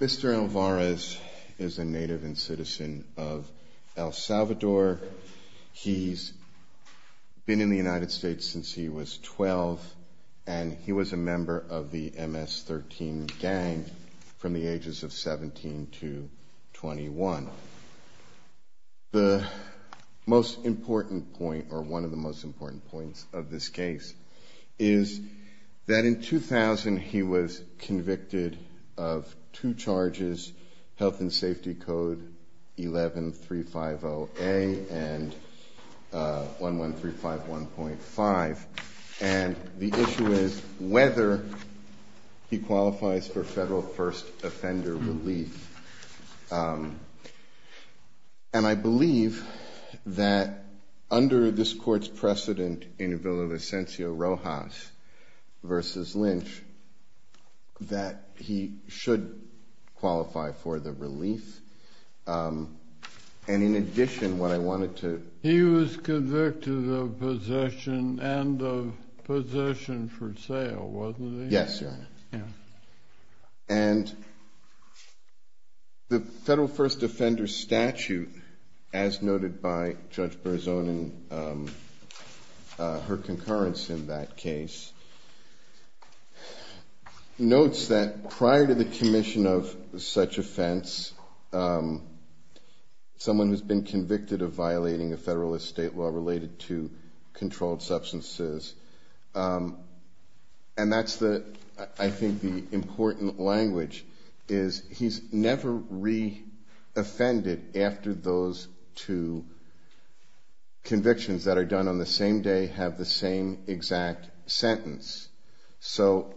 Mr. Alvarez is a native and citizen of El Salvador. He's been in the United States since he was 12, and he was a member of the MS-13 gang from the ages of 17 to 19. The most important point, or one of the most important points of this case, is that in 2000 he was convicted of two charges, Health and Safety Code 11350A and 11351.5, and the issue is whether he qualifies for federal first offender relief. And I believe that under this court's precedent in the bill of Ascensio Rojas v. Lynch, that he should qualify for the relief. And in addition, what I wanted to... He was convicted of possession and of possession for sale, wasn't he? Yes, Your Honor. And the federal first offender statute, as noted by Judge Berzon and her concurrence in that case, notes that prior to the commission of such offense, someone has been convicted of violating a federal estate law related to controlled substances. And that's, I think, the important language, is he's never re-offended after those two convictions that are done on the same day have the same exact sentence. So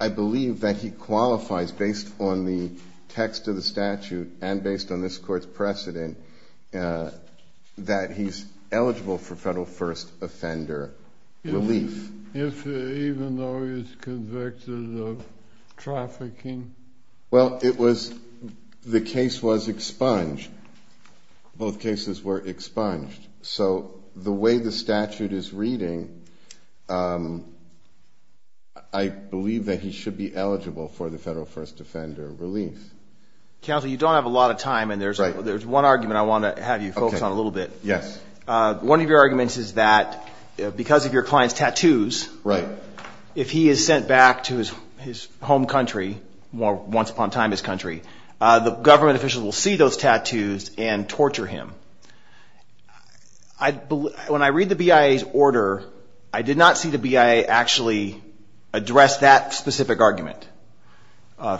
I believe that he qualifies, based on the text of the statute and based on this court's precedent, that he's eligible for federal first offender relief. Even though he's convicted of trafficking? Well, the case was expunged. Both cases were expunged. So the way the statute is reading, I believe that he should be eligible for the federal first offender relief. Counsel, you don't have a lot of time, and there's one argument I want to have you focus on a little bit. Yes. One of your arguments is that because of your client's tattoos, if he is sent back to his home country, once upon a time his country, the government officials will see those tattoos and torture him. When I read the BIA's order, I did not see the BIA actually address that specific argument.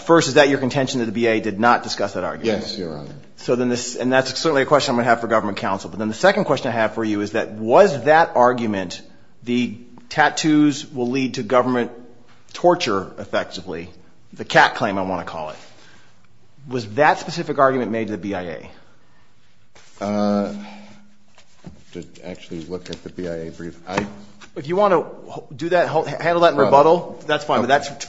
First, is that your contention that the BIA did not discuss that argument? Yes, Your Honor. And that's certainly a question I'm going to have for government counsel. But then the second question I have for you is that was that argument, the tattoos will lead to government torture, effectively, the cat claim, I want to call it. Was that specific argument made to the BIA? To actually look at the BIA brief. If you want to do that, handle that in rebuttal, that's fine. That's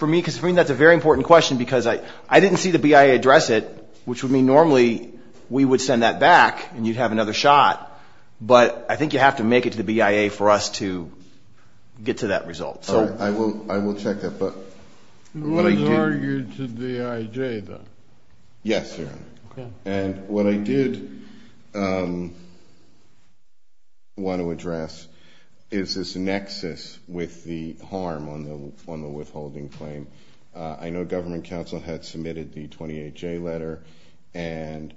a very important question because I didn't see the BIA address it, which would mean normally we would send that back and you'd have another shot. But I think you have to make it to the BIA for us to get to that result. I will check that. It was argued to the IJ, though. Yes, Your Honor. And what I did want to address is this nexus with the harm on the withholding claim. I know government counsel had submitted the 28J letter and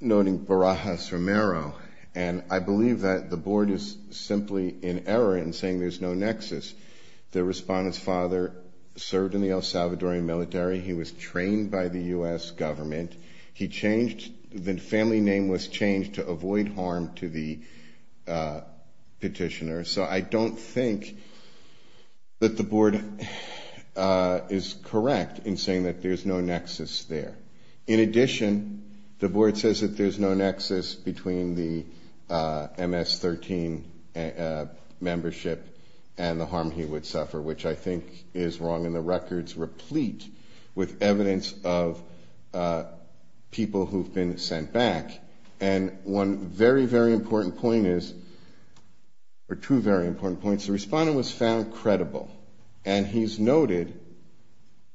noting Barajas Romero. And I believe that the board is simply in error in saying there's no nexus. The respondent's father served in the El Salvadorian military. He was trained by the U.S. government. He changed, the family name was changed to avoid harm to the petitioner. So I don't think that the board is correct in saying that there's no nexus there. In addition, the board says that there's no nexus between the MS-13 membership and the harm he would suffer, which I think is wrong. And the records replete with evidence of people who've been sent back. And one very, very important point is, or two very important points, the respondent was found credible. And he's noted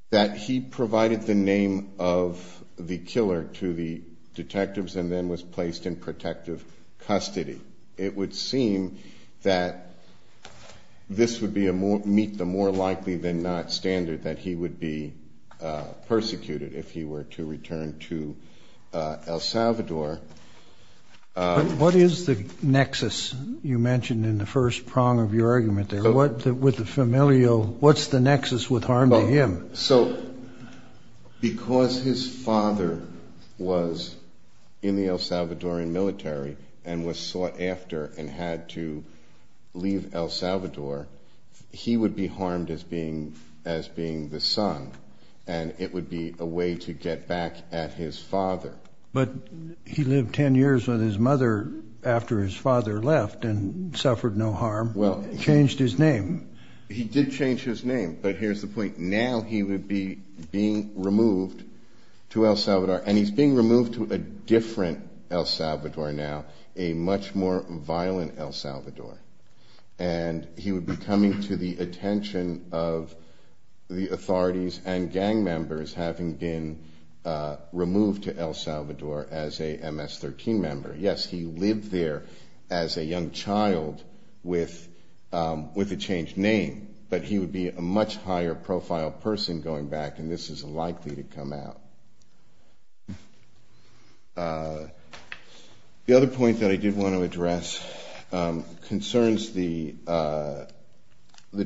that he provided the name of the killer to the detectives and then was placed in protective custody. It would seem that this would meet the more likely than not standard that he would be persecuted if he were to return to El Salvador. But what is the nexus you mentioned in the first prong of your argument there? With the familial, what's the nexus with harm to him? So because his father was in the El Salvadorian military and was sought after and had to leave El Salvador, he would be harmed as being the son. And it would be a way to get back at his father. But he lived 10 years with his mother after his father left and suffered no harm, changed his name. He did change his name. But here's the point. Now he would be being removed to El Salvador. And he's being removed to a different El Salvador now, a much more violent El Salvador. And he would be coming to the attention of the authorities and gang members having been removed to El Salvador as a MS-13 member. Yes, he lived there as a young child with a changed name. But he would be a much higher profile person going back, and this is likely to come out. The other point that I did want to address concerns the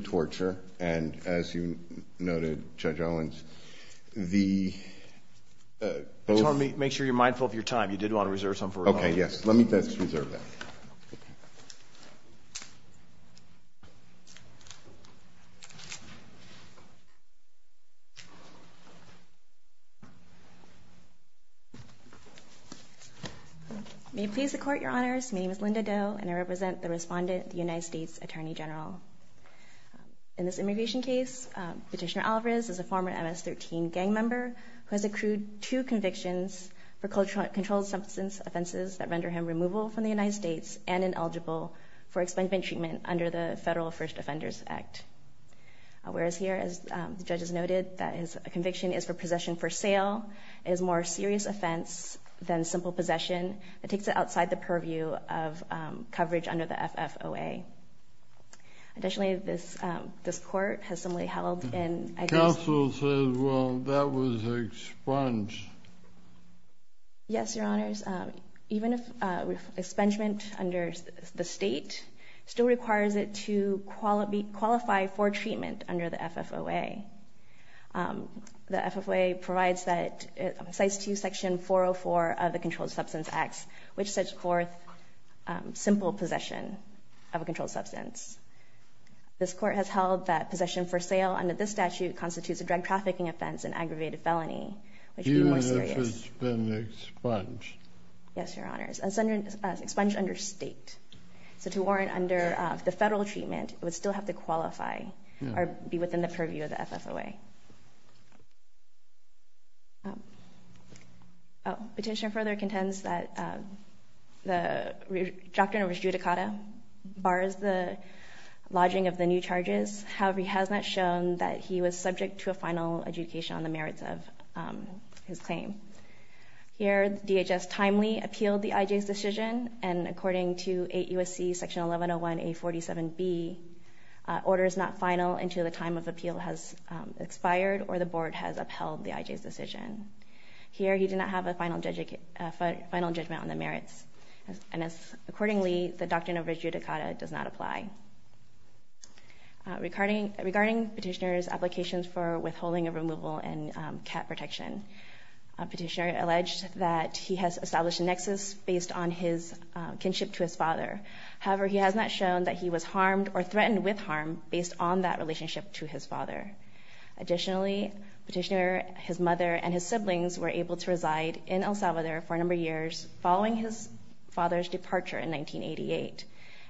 torture. And as you noted, Judge Owens, the both of them. Make sure you're mindful of your time. You did want to reserve some for rebuttal. Okay, yes. Let me just reserve that. Thank you. May it please the Court, Your Honors. My name is Linda Doe, and I represent the respondent, the United States Attorney General. In this immigration case, Petitioner Alvarez is a former MS-13 gang member who has accrued two convictions for controlled substance offenses that render him removal from the United States and ineligible for expungement treatment under the Federal First Offenders Act. Alvarez here, as the judge has noted, that his conviction is for possession for sale. It is a more serious offense than simple possession. It takes it outside the purview of coverage under the FFOA. Additionally, this Court has similarly held and I guess— Well, that was expunged. Yes, Your Honors. Even if expungement under the state still requires it to qualify for treatment under the FFOA. The FFOA provides that—cites to you Section 404 of the Controlled Substance Act, which sets forth simple possession of a controlled substance. This Court has held that possession for sale under this statute constitutes a drug trafficking offense and aggravated felony, which would be more serious. Even if it's been expunged? Yes, Your Honors. Expunged under state. So to warrant under the Federal treatment, it would still have to qualify or be within the purview of the FFOA. Petitioner further contends that the doctrine of adjudicata bars the lodging of the new charges. However, he has not shown that he was subject to a final adjudication on the merits of his claim. Here, DHS timely appealed the IJ's decision. And according to 8 U.S.C. Section 1101A47B, order is not final until the time of appeal has expired or the Board has upheld the IJ's decision. Here, he did not have a final judgment on the merits. And accordingly, the doctrine of adjudicata does not apply. Regarding petitioner's applications for withholding of removal and cat protection, petitioner alleged that he has established a nexus based on his kinship to his father. However, he has not shown that he was harmed or threatened with harm based on that relationship to his father. Additionally, petitioner, his mother, and his siblings were able to reside in El Salvador for a number of years following his father's departure in 1988.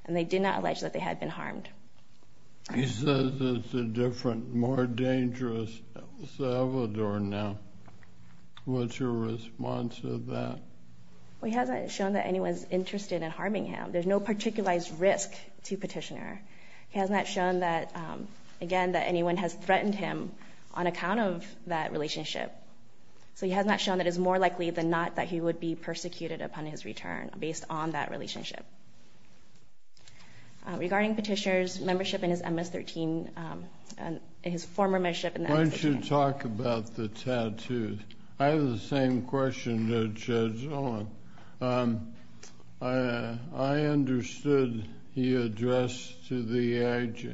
And they did not allege that they had been harmed. He says it's a different, more dangerous El Salvador now. What's your response to that? Well, he hasn't shown that anyone's interested in harming him. There's no particularized risk to petitioner. He has not shown that, again, that anyone has threatened him on account of that relationship. So he has not shown that it's more likely than not that he would be persecuted upon his return based on that relationship. Regarding petitioner's membership in his MS-13, his former membership in the MS-13. Why don't you talk about the tattoos? I have the same question to Judge Owen. I understood he addressed to the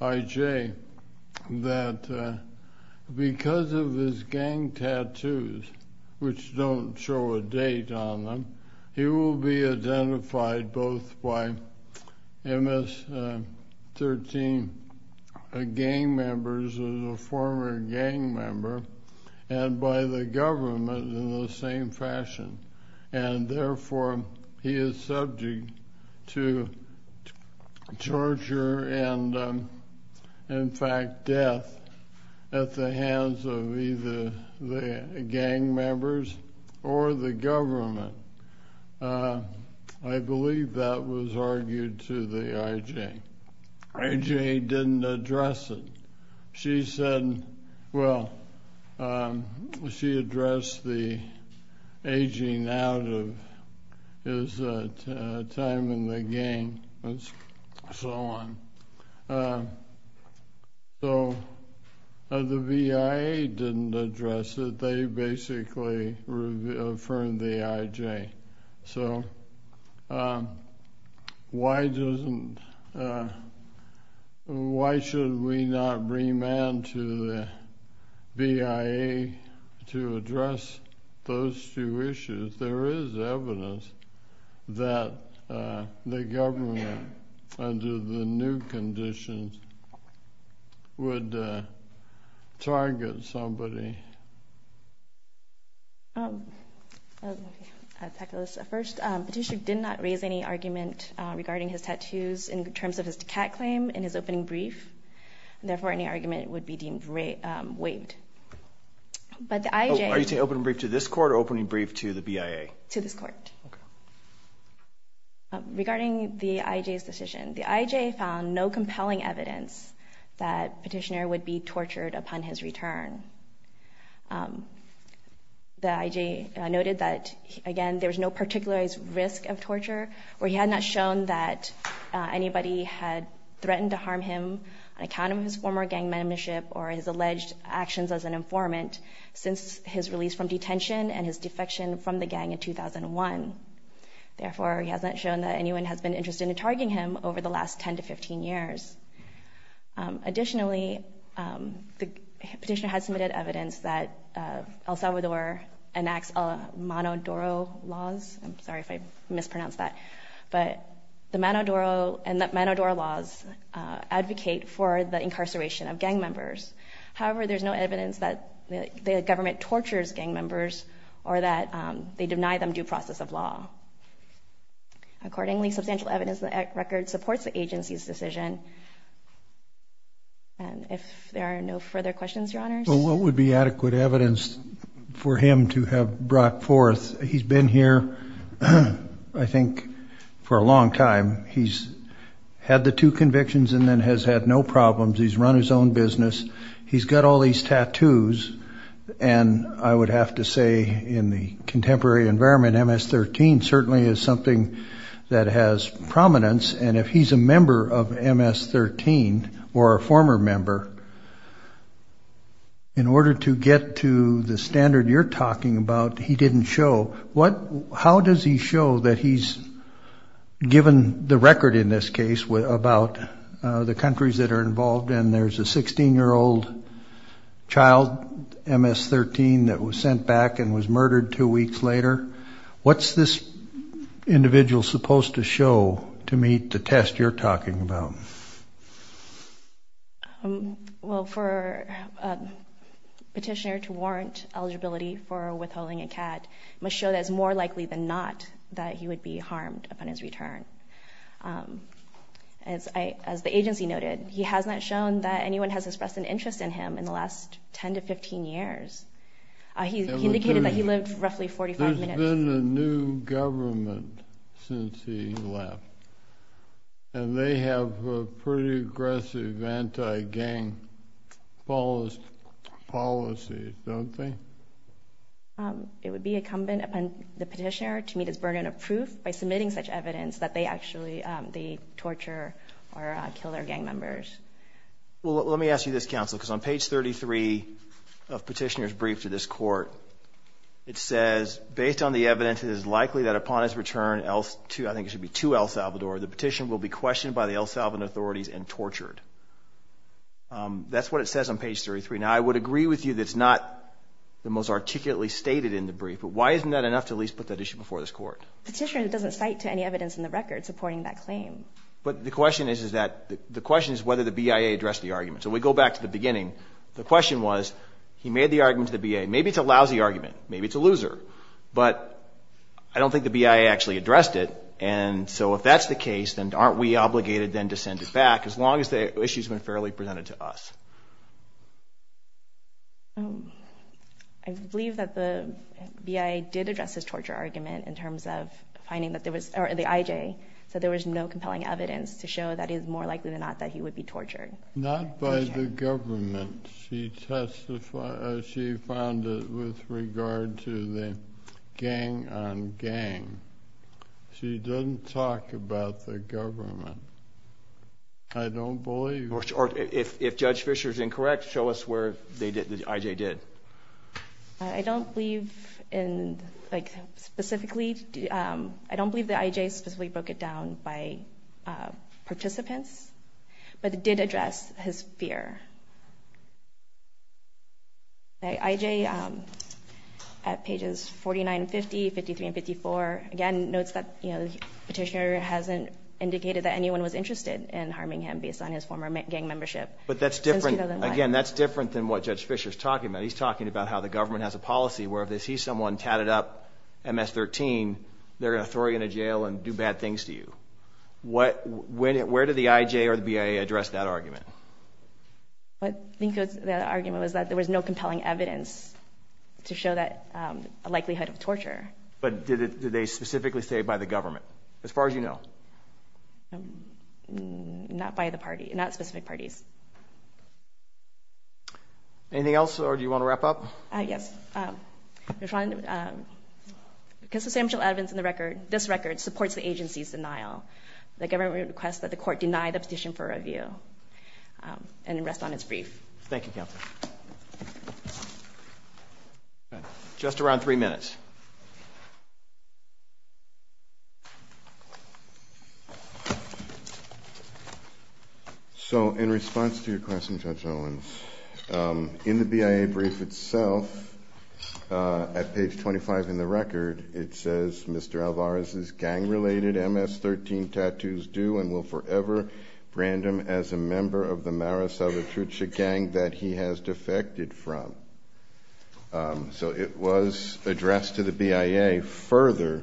IJ that because of his gang tattoos, which don't show a date on them, he will be identified both by MS-13 gang members as a former gang member and by the government in the same fashion. And therefore, he is subject to torture and, in fact, death at the hands of either the gang members or the government. I believe that was argued to the IJ. IJ didn't address it. She said, well, she addressed the aging out of his time in the gang and so on. So the VIA didn't address it. They basically affirmed the IJ. So why shouldn't we not remand to the VIA to address those two issues? There is evidence that the government, under the new conditions, would target somebody. First, Petitioner did not raise any argument regarding his tattoos in terms of his decat claim in his opening brief. Therefore, any argument would be deemed waived. Are you saying opening brief to this court or opening brief to the VIA? To this court. Okay. Regarding the IJ's decision, the IJ found no compelling evidence that Petitioner would be tortured upon his return. The IJ noted that, again, there was no particular risk of torture, where he had not shown that anybody had threatened to harm him on account of his former gang membership or his alleged actions as an informant since his release from detention and his defection from the gang in 2001. Therefore, he has not shown that anyone has been interested in targeting him over the last 10 to 15 years. Additionally, Petitioner has submitted evidence that El Salvador enacts manadoro laws. I'm sorry if I mispronounced that. But the manadoro laws advocate for the incarceration of gang members. However, there's no evidence that the government tortures gang members or that they deny them due process of law. Accordingly, substantial evidence in the record supports the agency's decision. And if there are no further questions, Your Honors? Well, what would be adequate evidence for him to have brought forth? He's been here, I think, for a long time. He's had the two convictions and then has had no problems. He's run his own business. He's got all these tattoos. And I would have to say in the contemporary environment, MS-13 certainly is something that has prominence. And if he's a member of MS-13 or a former member, in order to get to the standard you're talking about, he didn't show. How does he show that he's given the record in this case about the countries that are involved and there's a 16-year-old child, MS-13, that was sent back and was murdered two weeks later? What's this individual supposed to show to meet the test you're talking about? Well, for a petitioner to warrant eligibility for withholding a CAD must show that it's more likely than not that he would be harmed upon his return. As the agency noted, he has not shown that anyone has expressed an interest in him in the last 10 to 15 years. He indicated that he lived roughly 45 minutes. There's been a new government since he left, and they have pretty aggressive anti-gang policies, don't they? It would be incumbent upon the petitioner to meet his burden of proof by submitting such evidence that they actually torture or kill their gang members. Well, let me ask you this, Counsel, because on page 33 of Petitioner's Brief to this Court, it says, based on the evidence, it is likely that upon his return, I think it should be to El Salvador, the petition will be questioned by the El Salvador authorities and tortured. That's what it says on page 33. Now, I would agree with you that it's not the most articulately stated in the brief, but why isn't that enough to at least put that issue before this Court? Petitioner doesn't cite to any evidence in the record supporting that claim. But the question is whether the BIA addressed the argument. So we go back to the beginning. The question was he made the argument to the BIA. Maybe it's a lousy argument. Maybe it's a loser. But I don't think the BIA actually addressed it, and so if that's the case, then aren't we obligated then to send it back as long as the issue's been fairly presented to us? I believe that the BIA did address his torture argument in terms of finding that there was, or the IJ, said there was no compelling evidence to show that it is more likely than not that he would be tortured. Not by the government. She found it with regard to the gang-on-gang. She didn't talk about the government. I don't believe. Or if Judge Fischer's incorrect, show us where the IJ did. I don't believe in, like, specifically, I don't believe the IJ specifically broke it down by participants, but it did address his fear. The IJ, at pages 49 and 50, 53 and 54, again, notes that the petitioner hasn't indicated that anyone was interested in harming him based on his former gang membership. But that's different. Again, that's different than what Judge Fischer's talking about. He's talking about how the government has a policy where if they see someone tatted up MS-13, they're going to throw you in a jail and do bad things to you. Where did the IJ or the BIA address that argument? I think the argument was that there was no compelling evidence to show that likelihood of torture. But did they specifically say by the government, as far as you know? Not by the party. Not specific parties. Anything else, or do you want to wrap up? Yes. Because the substantial evidence in this record supports the agency's denial, the government requests that the court deny the petition for review and rest on its brief. Thank you, Counsel. Just around three minutes. So in response to your question, Judge Owens, in the BIA brief itself, at page 25 in the record, it says Mr. Alvarez's gang-related MS-13 tattoos do and will forever brand him as a member of the Mara Salvatrucha gang that he has defected from. So it was addressed to the BIA further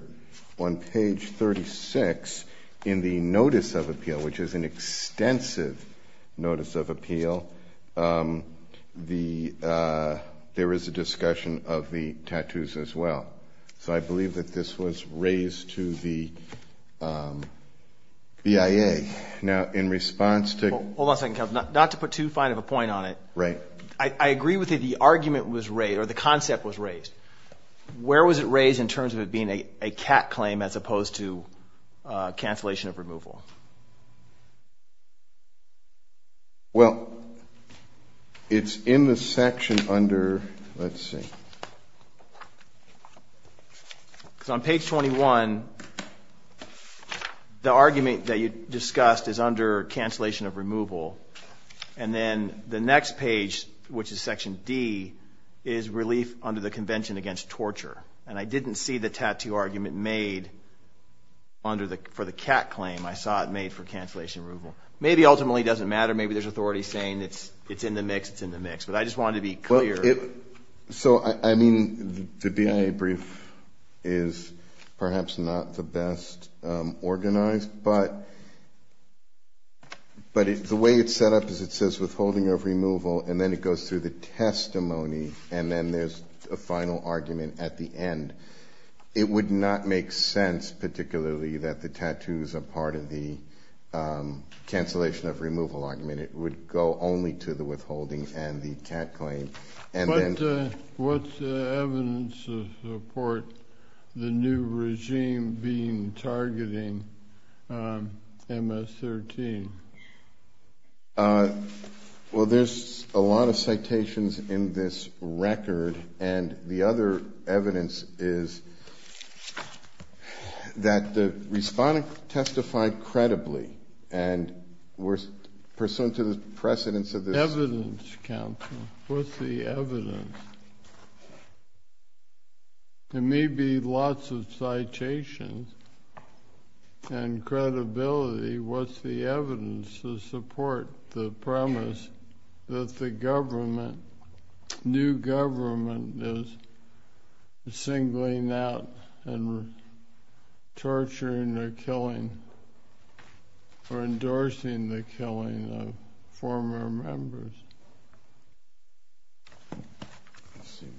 on page 36 in the notice of appeal, which is an extensive notice of appeal. There is a discussion of the tattoos as well. So I believe that this was raised to the BIA. Now, in response to — Hold on a second, Counsel. Not to put too fine of a point on it. Right. The argument was raised, or the concept was raised. Where was it raised in terms of it being a cat claim as opposed to cancellation of removal? Well, it's in the section under — let's see. So on page 21, the argument that you discussed is under cancellation of removal. And then the next page, which is section D, is relief under the convention against torture. And I didn't see the tattoo argument made for the cat claim. I saw it made for cancellation of removal. Maybe ultimately it doesn't matter. Maybe there's authority saying it's in the mix. It's in the mix. But I just wanted to be clear. So, I mean, the BIA brief is perhaps not the best organized. But the way it's set up is it says withholding of removal, and then it goes through the testimony. And then there's a final argument at the end. It would not make sense, particularly, that the tattoos are part of the cancellation of removal argument. It would go only to the withholding and the cat claim. What's the evidence to support the new regime being targeting MS-13? Well, there's a lot of citations in this record. And the other evidence is that the respondent testified credibly and were pursuant to the precedence of this. What's the evidence, counsel? What's the evidence? There may be lots of citations and credibility. What's the evidence to support the premise that the government, new government, is singling out and torturing or killing or endorsing the killing of former members? Thank you.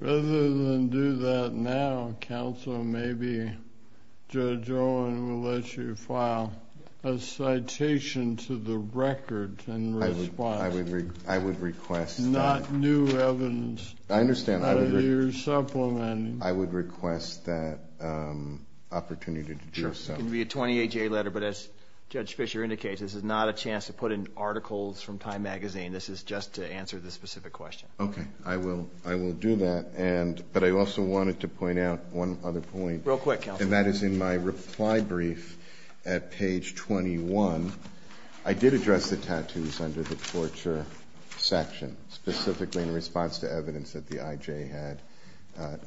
Rather than do that now, counsel, maybe Judge Owen will let you file a citation to the record in response. I would request that. Not new evidence. I understand. Not a new supplement. I would request that opportunity to do so. Sure. It can be a 28-J letter. But as Judge Fischer indicates, this is not a chance to put in articles from Time magazine. This is just to answer the specific question. Okay. I will do that. But I also wanted to point out one other point. Real quick, counsel. And that is in my reply brief at page 21. I did address the tattoos under the torture section, specifically in response to evidence that the IJ had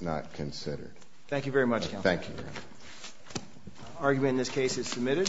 not considered. Thank you very much, counsel. Thank you, Your Honor. Argument in this case is submitted.